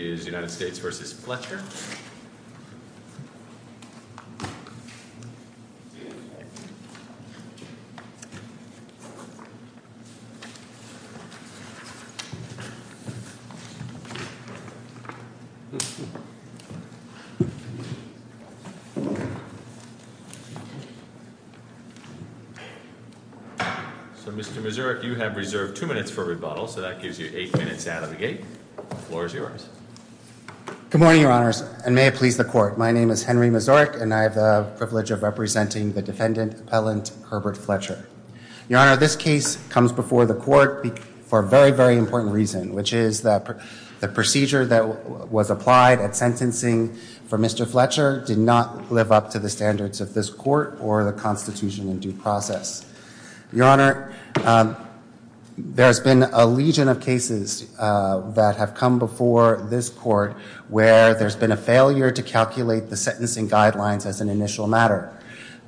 So Mr. Mazurek, you have reserved two minutes for rebuttal, so that gives you eight minutes out of the gate. The floor is yours. Henry Mazurek Good morning, your honors, and may it please the court. My name is Henry Mazurek, and I have the privilege of representing the defendant, Appellant Herbert Fletcher. Your honor, this case comes before the court for a very, very important reason, which is that the procedure that was applied at sentencing for Mr. Fletcher did not live up to the standards of this court or the Constitution in due process. Your honor, there's been a legion of cases that have come before this court where there's been a failure to calculate the sentencing guidelines as an initial matter.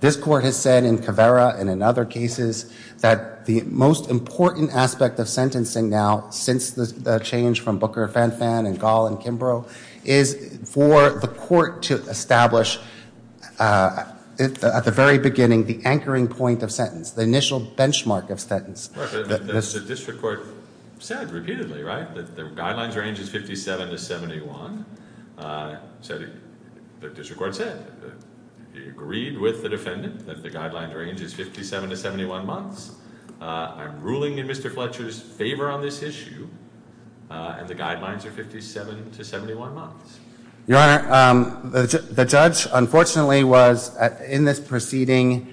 This court has said in Caveira and in other cases that the most important aspect of sentencing now since the change from Booker, Fanfan, and Gall, and Kimbrough is for the court to establish at the very beginning the anchoring point of sentence, the initial benchmark of sentence. The district court said repeatedly, right, that the guidelines range is 57 to 71. The district court said, agreed with the defendant that the guidelines range is 57 to 71 months. I'm ruling in Mr. Fletcher's favor on this issue, and the guidelines are 57 to 71 months. Your honor, the judge, unfortunately, was in this proceeding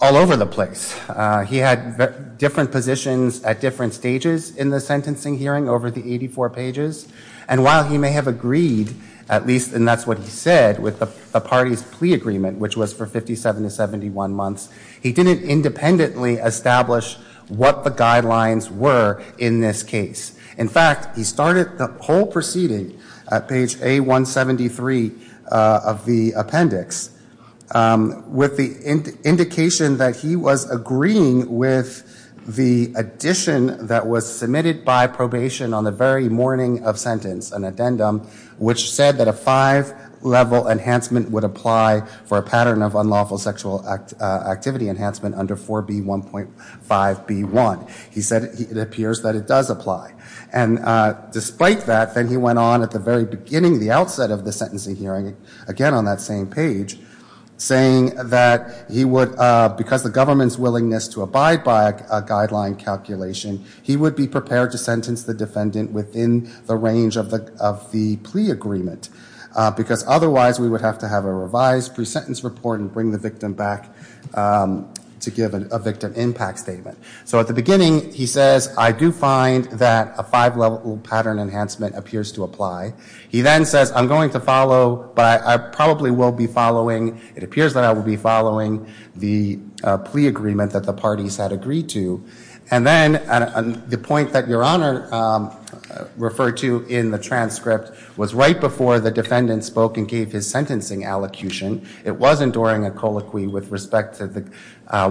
all over the place. He had different positions at different stages in the sentencing hearing over the 84 pages, and while he may have agreed, at least, and that's what he said, with the party's plea agreement, which was for 57 to 71 months, he didn't independently establish what the guidelines were in this case. In fact, he started the whole proceeding at page A173 of the appendix with the indication that he was agreeing with the addition that was submitted by probation on the very morning of sentence, an addendum, which said that a five-level enhancement would apply for a pattern of unlawful sexual activity enhancement under 4B1.5B1. He said it appears that it does apply, and despite that, then he went on at the very beginning, the outset of the sentencing hearing, again on that same page, saying that he would, because the government's willingness to abide by a guideline calculation, he would be prepared to sentence the defendant within the range of the plea agreement, because otherwise we would have to have a revised pre-sentence report and bring the victim back to give a victim impact statement. So at the beginning, he says, I do find that a five-level pattern enhancement appears to apply. He then says, I'm going to follow, but I probably will be following, it appears that I will be following the plea agreement that the parties had agreed to. And then the point that Your Honor referred to in the transcript was right before the defendant spoke and gave his sentencing allocution. It wasn't during a colloquy with respect to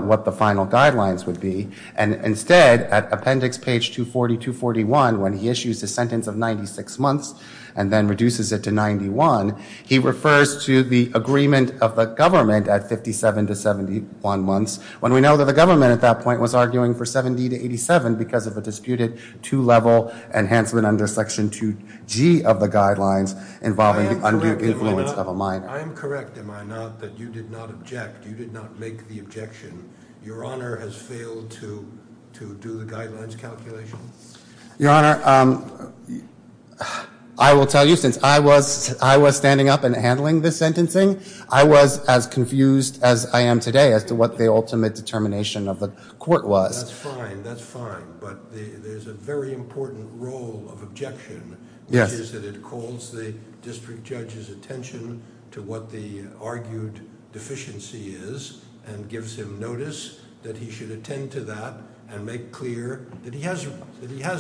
what the final guidelines would be, and instead, at appendix page 240-241, when he issues a sentence of 96 months and then reduces it to 91, he refers to the agreement of the government at 57 to 71 months, when we know that the government at that point was arguing for 70 to 87 because of a disputed two-level enhancement under section 2G of the guidelines involving the undue influence of a minor. I am correct, am I not, that you did not object, you did not make the objection. Your Honor has failed to do the guidelines calculation? Your Honor, I will tell you, since I was standing up and handling the sentencing, I was as confused as I am today as to what the ultimate determination of the court was. That's fine, that's fine, but there's a very important role of objection, which is that it calls the district judge's attention to what the argued deficiency is and gives him notice that he should attend to that and make clear that he has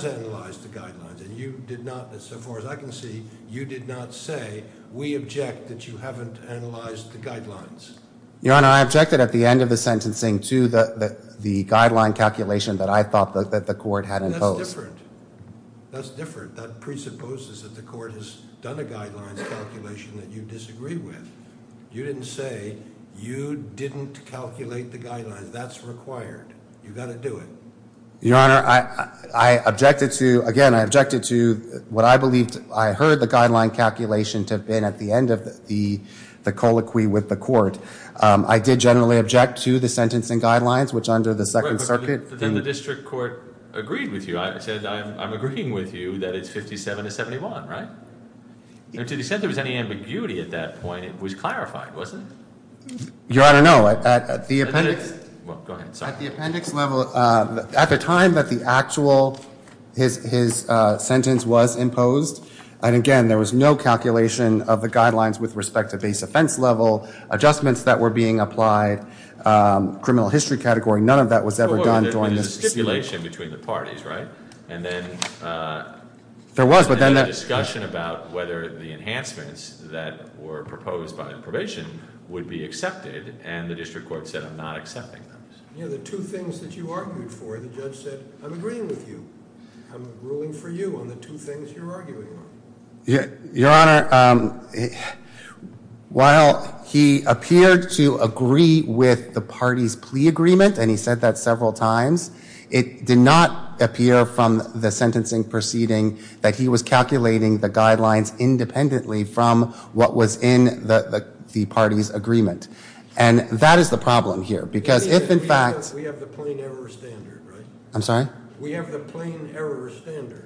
analyzed the guidelines. And you did not, as far as I can see, you did not say, we object that you haven't analyzed the guidelines. Your Honor, I objected at the end of the sentencing to the guideline calculation that I thought that the court had imposed. That's different, that's different, that presupposes that the court has done a guidelines calculation that you disagree with. You didn't say you didn't calculate the guidelines, that's required, you've got to do it. Your Honor, I objected to, again, I objected to what I believed, I heard the guideline calculation to have been at the end of the colloquy with the court. I did generally object to the sentencing guidelines, which under the Second Circuit. But then the district court agreed with you, I said I'm agreeing with you that it's 57 to 71, right? To the extent there was any ambiguity at that point, it was clarified, wasn't it? Your Honor, no, at the appendix. Well, go ahead, sorry. At the appendix level, at the time that the actual, his sentence was imposed, and again, there was no calculation of the guidelines with respect to base offense level, adjustments that were being applied, criminal history category. None of that was ever done during the. There was a stipulation between the parties, right? And then. There was, but then. There was a discussion about whether the enhancements that were proposed by the probation would be accepted, and the district court said I'm not accepting them. You know, the two things that you argued for, the judge said, I'm agreeing with you. I'm ruling for you on the two things you're arguing on. Your Honor, while he appeared to agree with the party's plea agreement, and he said that several times, it did not appear from the sentencing proceeding that he was calculating the guidelines independently from what was in the party's agreement. And that is the problem here, because if, in fact. We have the plain error standard, right? I'm sorry? We have the plain error standard.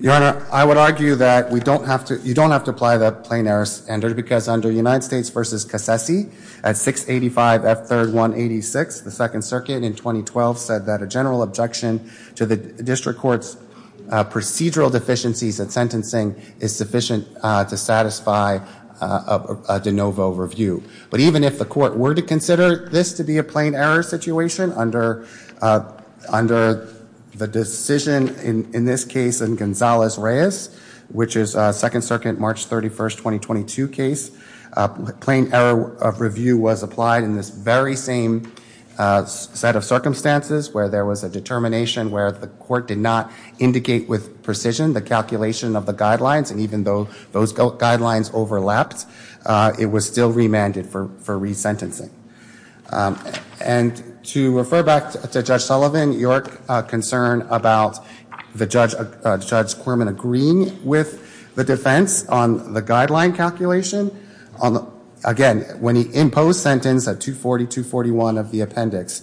Your Honor, I would argue that we don't have to. You don't have to apply the plain error standard, because under United States v. Casesi at 685 F. 3rd 186, the Second Circuit in 2012 said that a general objection to the district court's procedural deficiencies in sentencing is sufficient to satisfy a de novo review. But even if the court were to consider this to be a plain error situation under the decision in this case in Gonzalez-Reyes, which is a Second Circuit March 31st, 2022 case, plain error of review was applied in this very same set of circumstances where there was a determination where the court did not indicate with precision the calculation of the guidelines, and even though those guidelines overlapped, it was still remanded for resentencing. And to refer back to Judge Sullivan, your concern about Judge Quirman agreeing with the defense on the guideline calculation, again, when he imposed sentence at 240-241 of the appendix,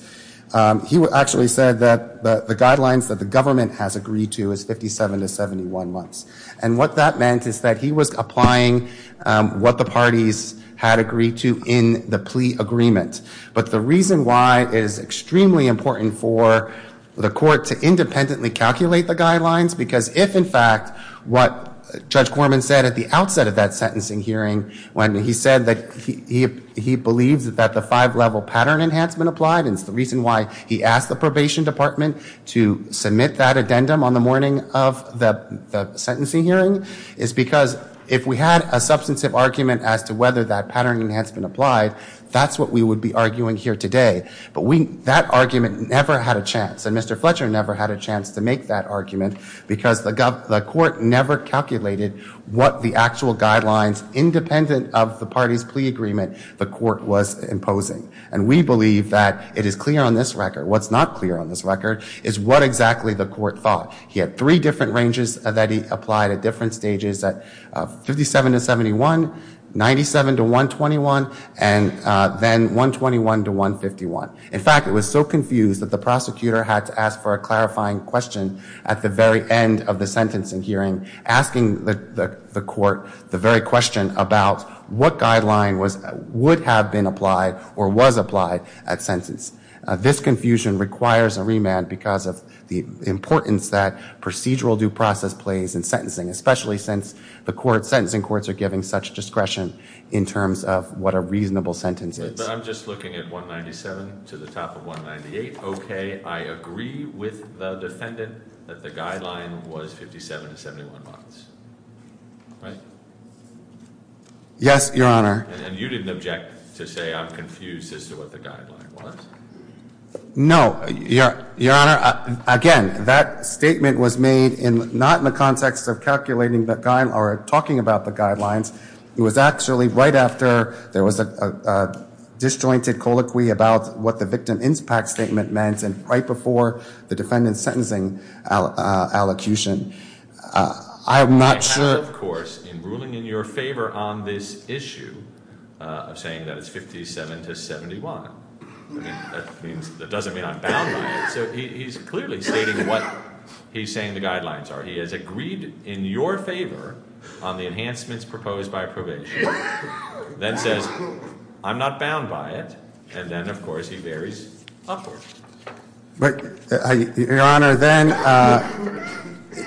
he actually said that the guidelines that the government has agreed to is 57 to 71 months. And what that meant is that he was applying what the parties had agreed to in the plea agreement. But the reason why it is extremely important for the court to independently calculate the guidelines, because if, in fact, what Judge Quirman said at the outset of that sentencing hearing, when he said that he believes that the five-level pattern enhancement applied, and it's the reason why he asked the probation department to submit that addendum on the morning of the sentencing hearing, is because if we had a substantive argument as to whether that pattern enhancement applied, that's what we would be arguing here today. But that argument never had a chance, and Mr. Fletcher never had a chance to make that argument, because the court never calculated what the actual guidelines, independent of the parties' plea agreement, the court was imposing. And we believe that it is clear on this record. What's not clear on this record is what exactly the court thought. He had three different ranges that he applied at different stages at 57 to 71, 97 to 121, and then 121 to 151. In fact, it was so confused that the prosecutor had to ask for a clarifying question at the very end of the sentencing hearing, asking the court the very question about what guideline would have been applied or was applied at sentence. This confusion requires a remand because of the importance that procedural due process plays in sentencing, especially since the sentencing courts are given such discretion in terms of what a reasonable sentence is. But I'm just looking at 197 to the top of 198. Okay. I agree with the defendant that the guideline was 57 to 71 months. Right? Yes, Your Honor. And you didn't object to say I'm confused as to what the guideline was? No. Your Honor, again, that statement was made not in the context of calculating or talking about the guidelines. It was actually right after there was a disjointed colloquy about what the victim impact statement meant and right before the defendant's sentencing allocution. I'm not sure. I have, of course, in ruling in your favor on this issue, I'm saying that it's 57 to 71. That doesn't mean I'm bound by it. So he's clearly stating what he's saying the guidelines are. He has agreed in your favor on the enhancements proposed by probation, then says I'm not bound by it, and then, of course, he varies upward. But, Your Honor, then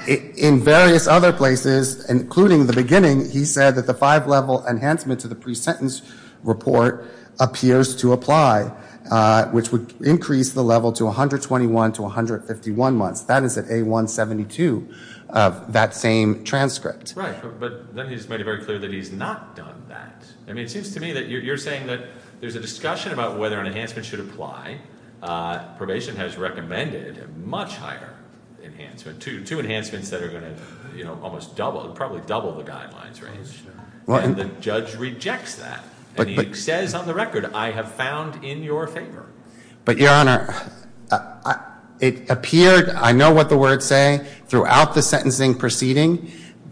in various other places, including the beginning, he said that the five-level enhancement to the pre-sentence report appears to apply, which would increase the level to 121 to 151 months. That is at A172 of that same transcript. Right. But then he's made it very clear that he's not done that. I mean, it seems to me that you're saying that there's a discussion about whether an enhancement should apply. Probation has recommended a much higher enhancement, two enhancements that are going to almost double, probably double the guidelines range. And the judge rejects that. And he says on the record, I have found in your favor. But, Your Honor, it appeared, I know what the words say, throughout the sentencing proceeding,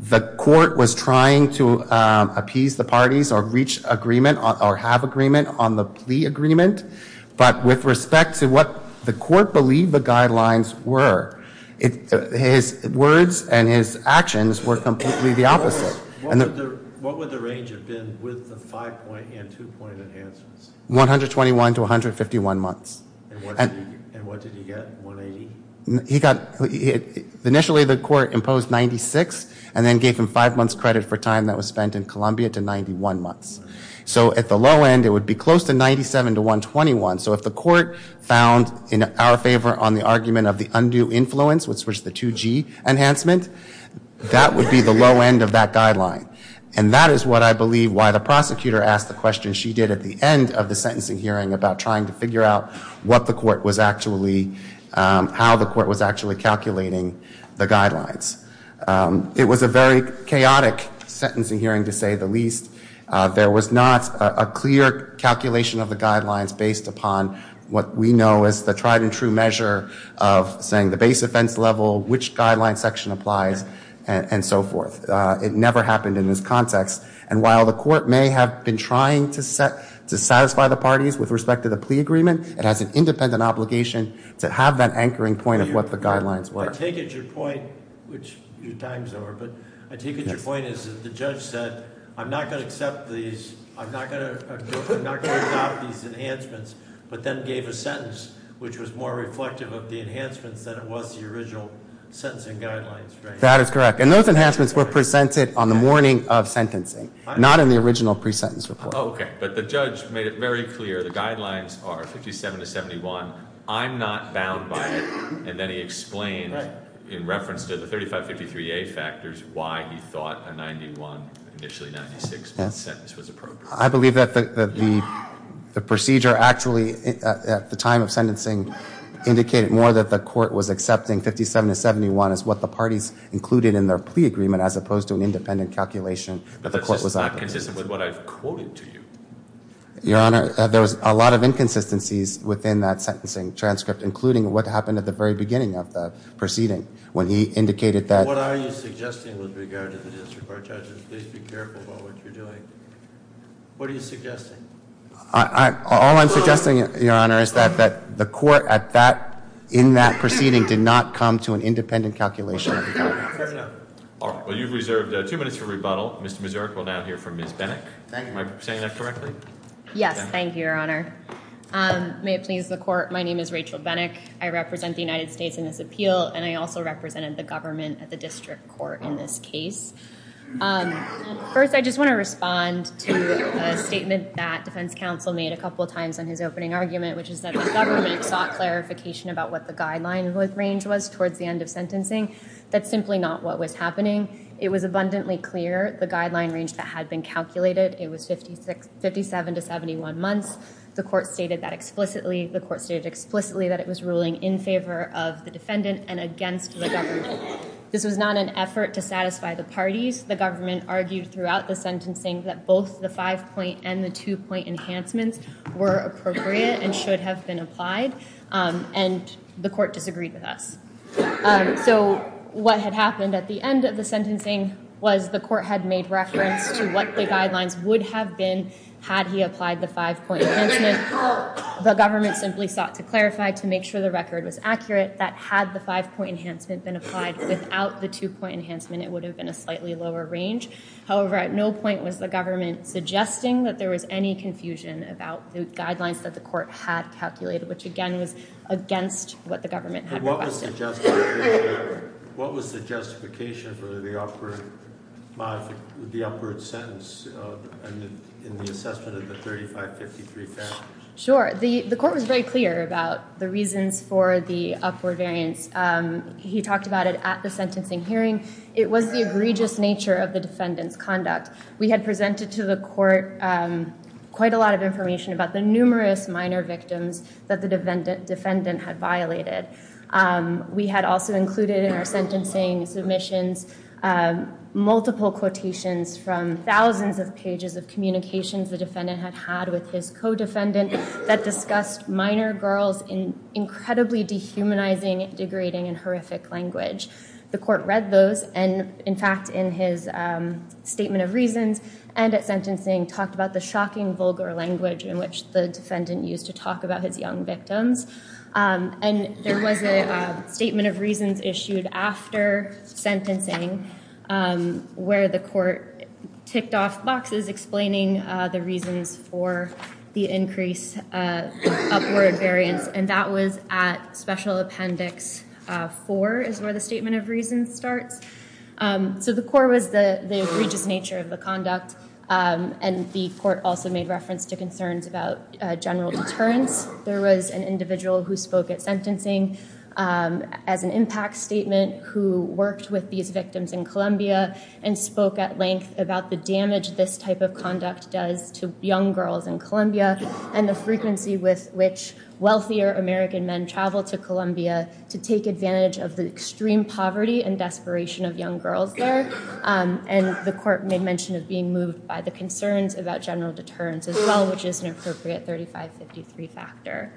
the court was trying to appease the parties or reach agreement or have agreement on the plea agreement. But with respect to what the court believed the guidelines were, his words and his actions were completely the opposite. What would the range have been with the five-point and two-point enhancements? 121 to 151 months. And what did he get, 180? He got, initially the court imposed 96 and then gave him five months credit for time that was spent in Columbia to 91 months. So at the low end, it would be close to 97 to 121. So if the court found in our favor on the argument of the undue influence, which was the 2G enhancement, that would be the low end of that guideline. And that is what I believe why the prosecutor asked the question she did at the end of the sentencing hearing about trying to figure out what the court was actually, how the court was actually calculating the guidelines. It was a very chaotic sentencing hearing, to say the least. There was not a clear calculation of the guidelines based upon what we know as the tried and true measure of saying the base offense level, which guideline section applies, and so forth. It never happened in this context. And while the court may have been trying to satisfy the parties with respect to the plea agreement, it has an independent obligation to have that anchoring point of what the guidelines were. I take it your point, which your time is over, but I take it your point is that the judge said, I'm not going to accept these, I'm not going to adopt these enhancements, but then gave a sentence, which was more reflective of the enhancements than it was the original sentencing guidelines, right? That is correct. And those enhancements were presented on the morning of sentencing, not in the original pre-sentence report. Oh, okay. But the judge made it very clear the guidelines are 57 to 71, I'm not bound by it, and then he explained in reference to the 3553A factors why he thought a 91, initially 96, sentence was appropriate. I believe that the procedure actually, at the time of sentencing, indicated more that the court was accepting 57 to 71 as what the parties included in their plea agreement as opposed to an independent calculation that the court was opting to. But that's just not consistent with what I've quoted to you. Your Honor, there was a lot of inconsistencies within that sentencing transcript, including what happened at the very beginning of the proceeding when he indicated that. What are you suggesting with regard to the district court judges? Please be careful about what you're doing. What are you suggesting? All I'm suggesting, Your Honor, is that the court in that proceeding did not come to an independent calculation. Well, you've reserved two minutes for rebuttal. Mr. Mazurk will now hear from Ms. Benick. Thank you. Am I saying that correctly? Yes. Thank you, Your Honor. May it please the court, my name is Rachel Benick. I represent the United States in this appeal, and I also represented the government at the district court in this case. First, I just want to respond to a statement that defense counsel made a couple of times in his opening argument, which is that the government sought clarification about what the guideline range was towards the end of sentencing. That's simply not what was happening. It was abundantly clear the guideline range that had been calculated. It was 57 to 71 months. The court stated that explicitly. The court stated explicitly that it was ruling in favor of the defendant and against the government. This was not an effort to satisfy the parties. The government argued throughout the sentencing that both the five-point and the two-point enhancements were appropriate and should have been applied, and the court disagreed with us. So what had happened at the end of the sentencing was the court had made reference to what the guidelines would have been had he applied the five-point enhancement. The government simply sought to clarify, to make sure the record was accurate, that had the five-point enhancement been applied without the two-point enhancement, it would have been a slightly lower range. However, at no point was the government suggesting that there was any confusion about the guidelines that the court had calculated, which again was against what the government had requested. What was the justification for the upward sentence in the assessment of the 3553 families? Sure. The court was very clear about the reasons for the upward variance. He talked about it at the sentencing hearing. It was the egregious nature of the defendant's conduct. We had presented to the court quite a lot of information about the numerous minor victims that the defendant had violated. We had also included in our sentencing submissions multiple quotations from thousands of pages of communications the defendant had had with his co-defendant that discussed minor girls in incredibly dehumanizing, degrading, and horrific language. The court read those, and in fact, in his statement of reasons and at sentencing, talked about the shocking vulgar language in which the defendant used to talk about his young victims. And there was a statement of reasons issued after sentencing where the court ticked off boxes explaining the reasons for the increased upward variance, and that was at Special Appendix 4 is where the statement of reasons starts. So the court was the egregious nature of the conduct, and the court also made reference to concerns about general deterrence. There was an individual who spoke at sentencing as an impact statement who worked with these victims in Colombia and spoke at length about the damage this type of conduct does to young girls in Colombia and the frequency with which wealthier American men travel to Colombia to take advantage of the extreme poverty and desperation of young girls there. And the court made mention of being moved by the concerns about general deterrence as well, which is an appropriate 3553 factor.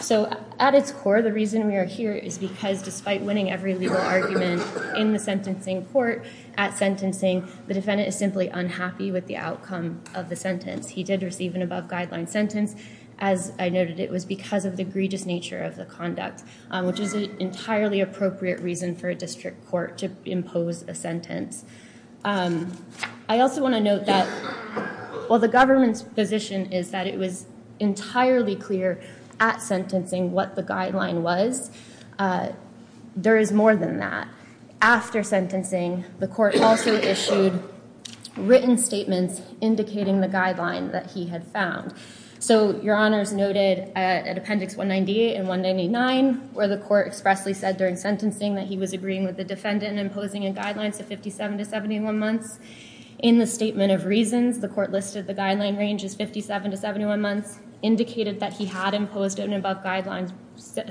So at its core, the reason we are here is because despite winning every legal argument in the sentencing court at sentencing, the defendant is simply unhappy with the outcome of the sentence. He did receive an above-guideline sentence. As I noted, it was because of the egregious nature of the conduct, which is an entirely appropriate reason for a district court to impose a sentence. I also want to note that while the government's position is that it was entirely clear at sentencing what the guideline was, there is more than that. After sentencing, the court also issued written statements indicating the guideline that he had found. So Your Honors noted at Appendix 198 and 199 where the court expressly said during sentencing that he was agreeing with the defendant and imposing a guideline to 57 to 71 months. In the statement of reasons, the court listed the guideline range as 57 to 71 months, indicated that he had imposed an above-guideline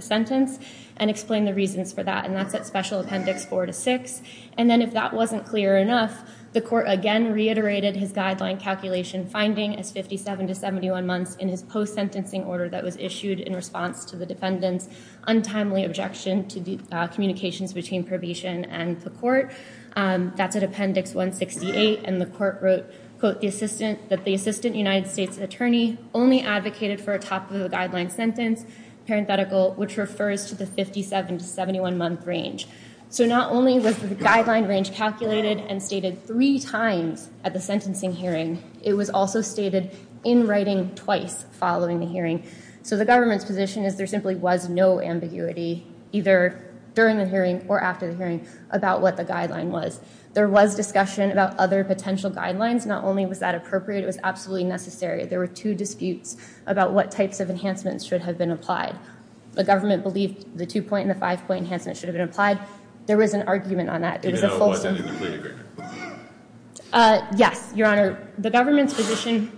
sentence, and explained the reasons for that. And that's at Special Appendix 4 to 6. And then if that wasn't clear enough, the court again reiterated his guideline calculation finding as 57 to 71 months in his post-sentencing order that was issued in response to the defendant's untimely objection to the communications between probation and the court. That's at Appendix 168, and the court wrote, quote, that the assistant United States attorney only advocated for a top-of-the-guideline sentence, parenthetical, which refers to the 57 to 71-month range. So not only was the guideline range calculated and stated three times at the sentencing hearing, it was also stated in writing twice following the hearing. So the government's position is there simply was no ambiguity, either during the hearing or after the hearing, about what the guideline was. There was discussion about other potential guidelines. Not only was that appropriate, it was absolutely necessary. There were two disputes about what types of enhancements should have been applied. The government believed the two-point and the five-point enhancements should have been applied. There was an argument on that. It was a full statement. Even though it wasn't in the plea agreement? Yes, Your Honor. The government's position,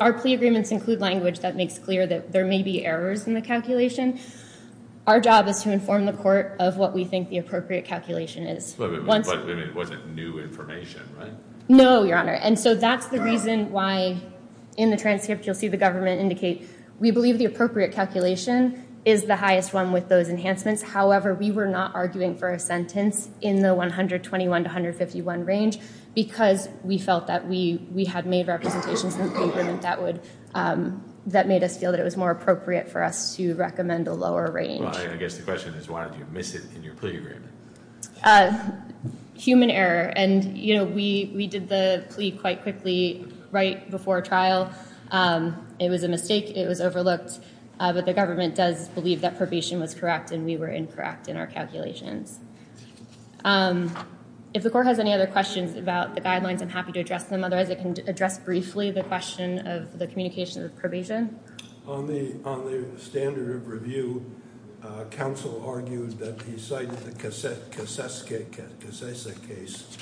our plea agreements include language that makes clear that there may be errors in the calculation. Our job is to inform the court of what we think the appropriate calculation is. But it wasn't new information, right? No, Your Honor. And so that's the reason why in the transcript you'll see the government indicate, we believe the appropriate calculation is the highest one with those enhancements. However, we were not arguing for a sentence in the 121 to 151 range because we felt that we had made representations in the agreement that would, that made us feel that it was more appropriate for us to recommend a lower range. Well, I guess the question is why did you miss it in your plea agreement? Human error. And, you know, we did the plea quite quickly right before trial. It was a mistake. It was overlooked. But the government does believe that probation was correct and we were incorrect in our calculations. If the court has any other questions about the guidelines, I'm happy to address them. Otherwise, I can address briefly the question of the communication of probation. On the standard of review, counsel argued that he cited the Casese case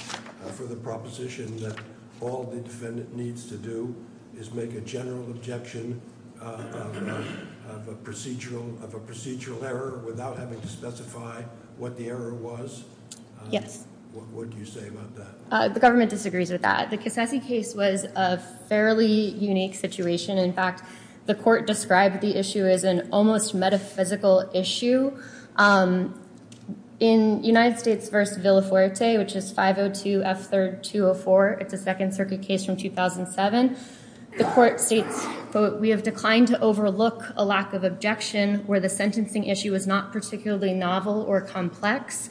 for the proposition that all the defendant needs to do is make a general objection of a procedural error without having to specify what the error was. Yes. What would you say about that? The government disagrees with that. The Casese case was a fairly unique situation. In fact, the court described the issue as an almost metaphysical issue. In United States v. Villafuerte, which is 502F3204, it's a Second Circuit case from 2007, the court states, quote, we have declined to overlook a lack of objection where the sentencing issue is not particularly novel or complex.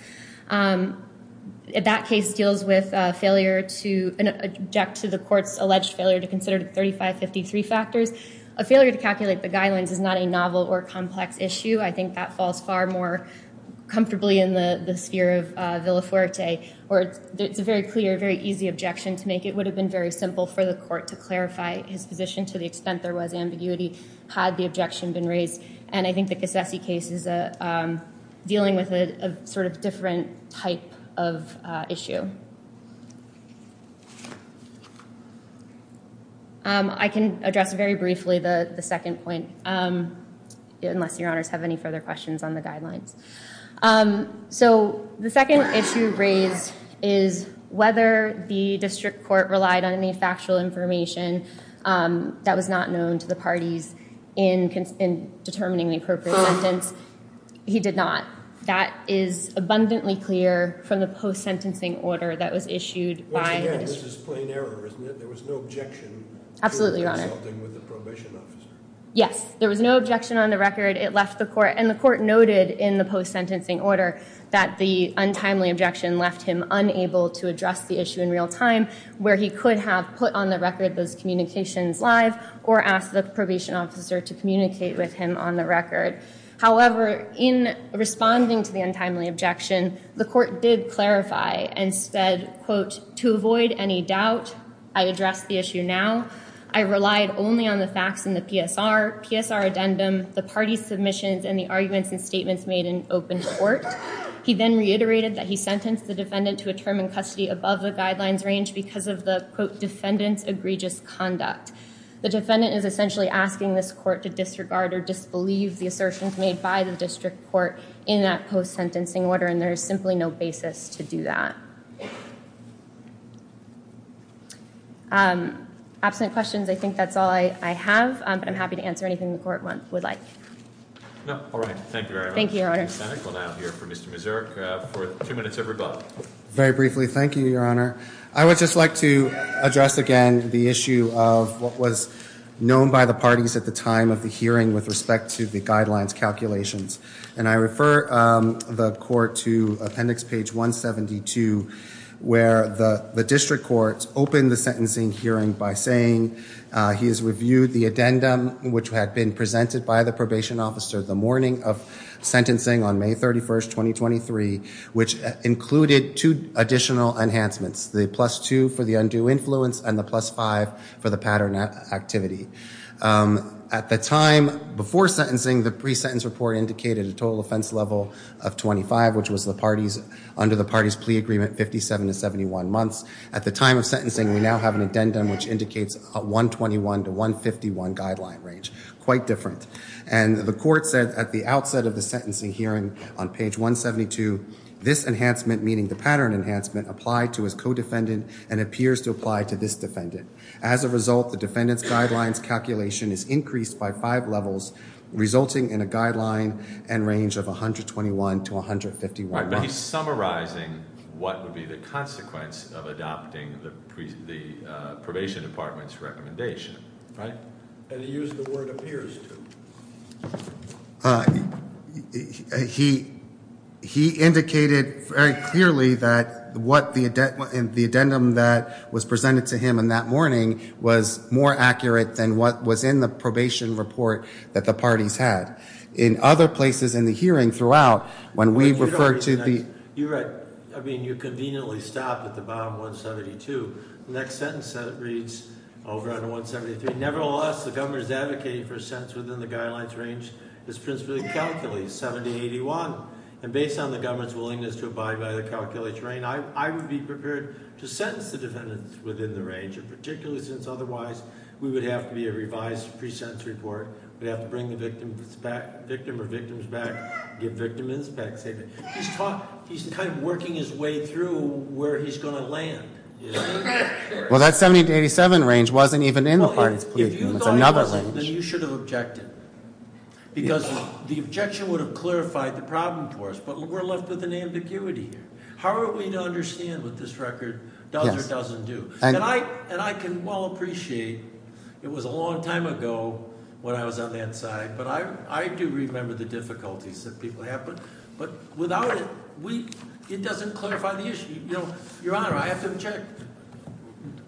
That case deals with a failure to object to the court's alleged failure to consider the 3553 factors. A failure to calculate the guidelines is not a novel or complex issue. I think that falls far more comfortably in the sphere of Villafuerte. It's a very clear, very easy objection to make. It would have been very simple for the court to clarify his position to the extent there was ambiguity had the objection been raised. And I think the Casese case is dealing with a different type of issue. I can address very briefly the second point, unless your honors have any further questions on the guidelines. The second issue raised is whether the district court relied on any factual information that was not known to the parties in determining the appropriate sentence. He did not. That is abundantly clear from the post-sentencing order that was issued by the district. Which, again, this is plain error, isn't it? There was no objection to consulting with the probation officer. Absolutely, your honor. Yes, there was no objection on the record. It left the court, and the court noted in the post-sentencing order that the untimely objection left him unable to address the issue in real time, where he could have put on the record those communications live or asked the probation officer to communicate with him on the record. However, in responding to the untimely objection, the court did clarify and said, quote, to avoid any doubt, I address the issue now. I relied only on the facts in the PSR, PSR addendum, the parties' submissions, and the arguments and statements made in open court. He then reiterated that he sentenced the defendant to a term in custody above the guidelines range because of the, quote, defendant's egregious conduct. The defendant is essentially asking this court to disregard or disbelieve the assertions made by the district court in that post-sentencing order, and there is simply no basis to do that. Absent questions, I think that's all I have, but I'm happy to answer anything the court would like. All right, thank you very much. Thank you, your honor. We'll now hear from Mr. Mazurk for two minutes of rebuttal. Very briefly, thank you, your honor. I would just like to address again the issue of what was known by the parties at the time of the hearing with respect to the guidelines calculations, and I refer the court to appendix page 172 where the district court opened the sentencing hearing by saying he has reviewed the addendum which had been presented by the probation officer the morning of sentencing on May 31, 2023, which included two additional enhancements, the plus two for the undue influence and the plus five for the pattern activity. At the time before sentencing, the pre-sentence report indicated a total offense level of 25, which was under the parties' plea agreement, 57 to 71 months. At the time of sentencing, we now have an addendum which indicates a 121 to 151 guideline range, quite different. And the court said at the outset of the sentencing hearing on page 172, this enhancement, meaning the pattern enhancement, applied to his codefendant and appears to apply to this defendant. As a result, the defendant's guidelines calculation is increased by five levels, resulting in a guideline and range of 121 to 151 months. But he's summarizing what would be the consequence of adopting the probation department's recommendation, right? And he used the word appears to. He indicated very clearly that what the addendum that was presented to him on that morning was more accurate than what was in the probation report that the parties had. In other places in the hearing throughout, when we referred to the- You're right. I mean, you conveniently stopped at the bottom 172. The next sentence reads over on 173, nevertheless, the government is advocating for a sentence within the guidelines range that's principally calculated, 70 to 81. And based on the government's willingness to abide by the calculated range, I would be prepared to sentence the defendant within the range, and particularly since otherwise, we would have to be a revised pre-sentence report. We'd have to bring the victim or victims back, give victim inspection. He's kind of working his way through where he's going to land. Well, that 70 to 87 range wasn't even in the parties' plea agreement. It's another range. If you thought it wasn't, then you should have objected because the objection would have clarified the problem for us, but we're left with an ambiguity here. How are we to understand what this record does or doesn't do? And I can well appreciate it was a long time ago when I was on that side, but I do remember the difficulties that people have. But without it, it doesn't clarify the issue. Your Honor, I have to object.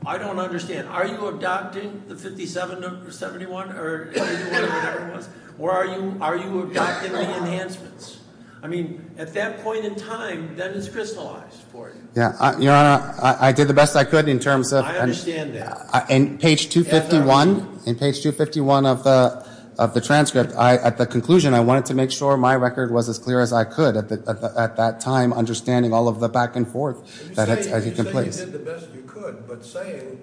I don't understand. Are you adopting the 57 to 71 or whatever it was, or are you adopting the enhancements? I mean, at that point in time, that is crystallized for you. Your Honor, I did the best I could in terms of— I understand that. In page 251 of the transcript, at the conclusion, I wanted to make sure my record was as clear as I could at that time, understanding all of the back and forth. You say you did the best you could, but saying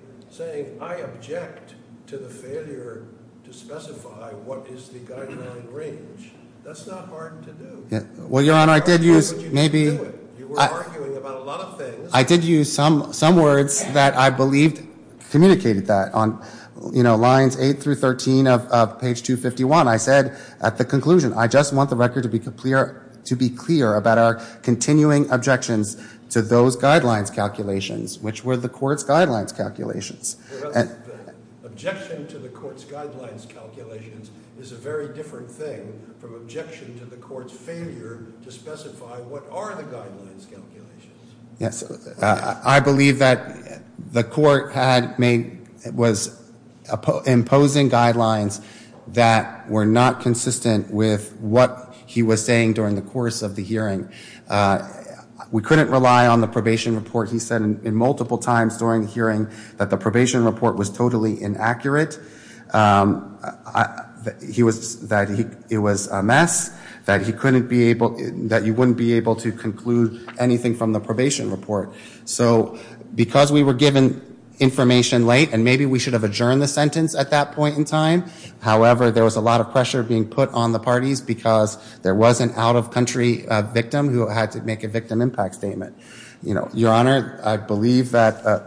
I object to the failure to specify what is the guideline range, that's not hard to do. Well, Your Honor, I did use maybe— You were arguing about a lot of things. I did use some words that I believed communicated that. On lines 8 through 13 of page 251, I said at the conclusion, I just want the record to be clear about our continuing objections to those guidelines calculations, which were the court's guidelines calculations. Objection to the court's guidelines calculations is a very different thing from objection to the court's failure to specify what are the guidelines calculations. I believe that the court was imposing guidelines that were not consistent with what he was saying during the course of the hearing. We couldn't rely on the probation report. He said multiple times during the hearing that the probation report was totally inaccurate, that it was a mess, that you wouldn't be able to conclude anything from the probation report. So because we were given information late, and maybe we should have adjourned the sentence at that point in time, however, there was a lot of pressure being put on the parties because there was an out-of-country victim who had to make a victim impact statement. Your Honor, I believe that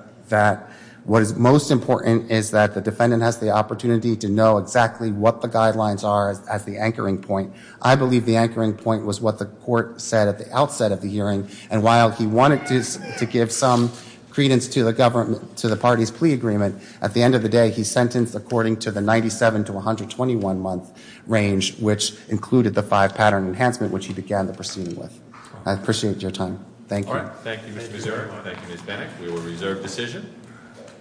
what is most important is that the defendant has the opportunity to know exactly what the guidelines are as the anchoring point. I believe the anchoring point was what the court said at the outset of the hearing, and while he wanted to give some credence to the parties' plea agreement, at the end of the day, he's sentenced according to the 97 to 121 month range, which included the five pattern enhancement, which he began the proceeding with. I appreciate your time. Thank you. Thank you, Mr. Missouri. Thank you, Ms. Bennett. We will reserve decision.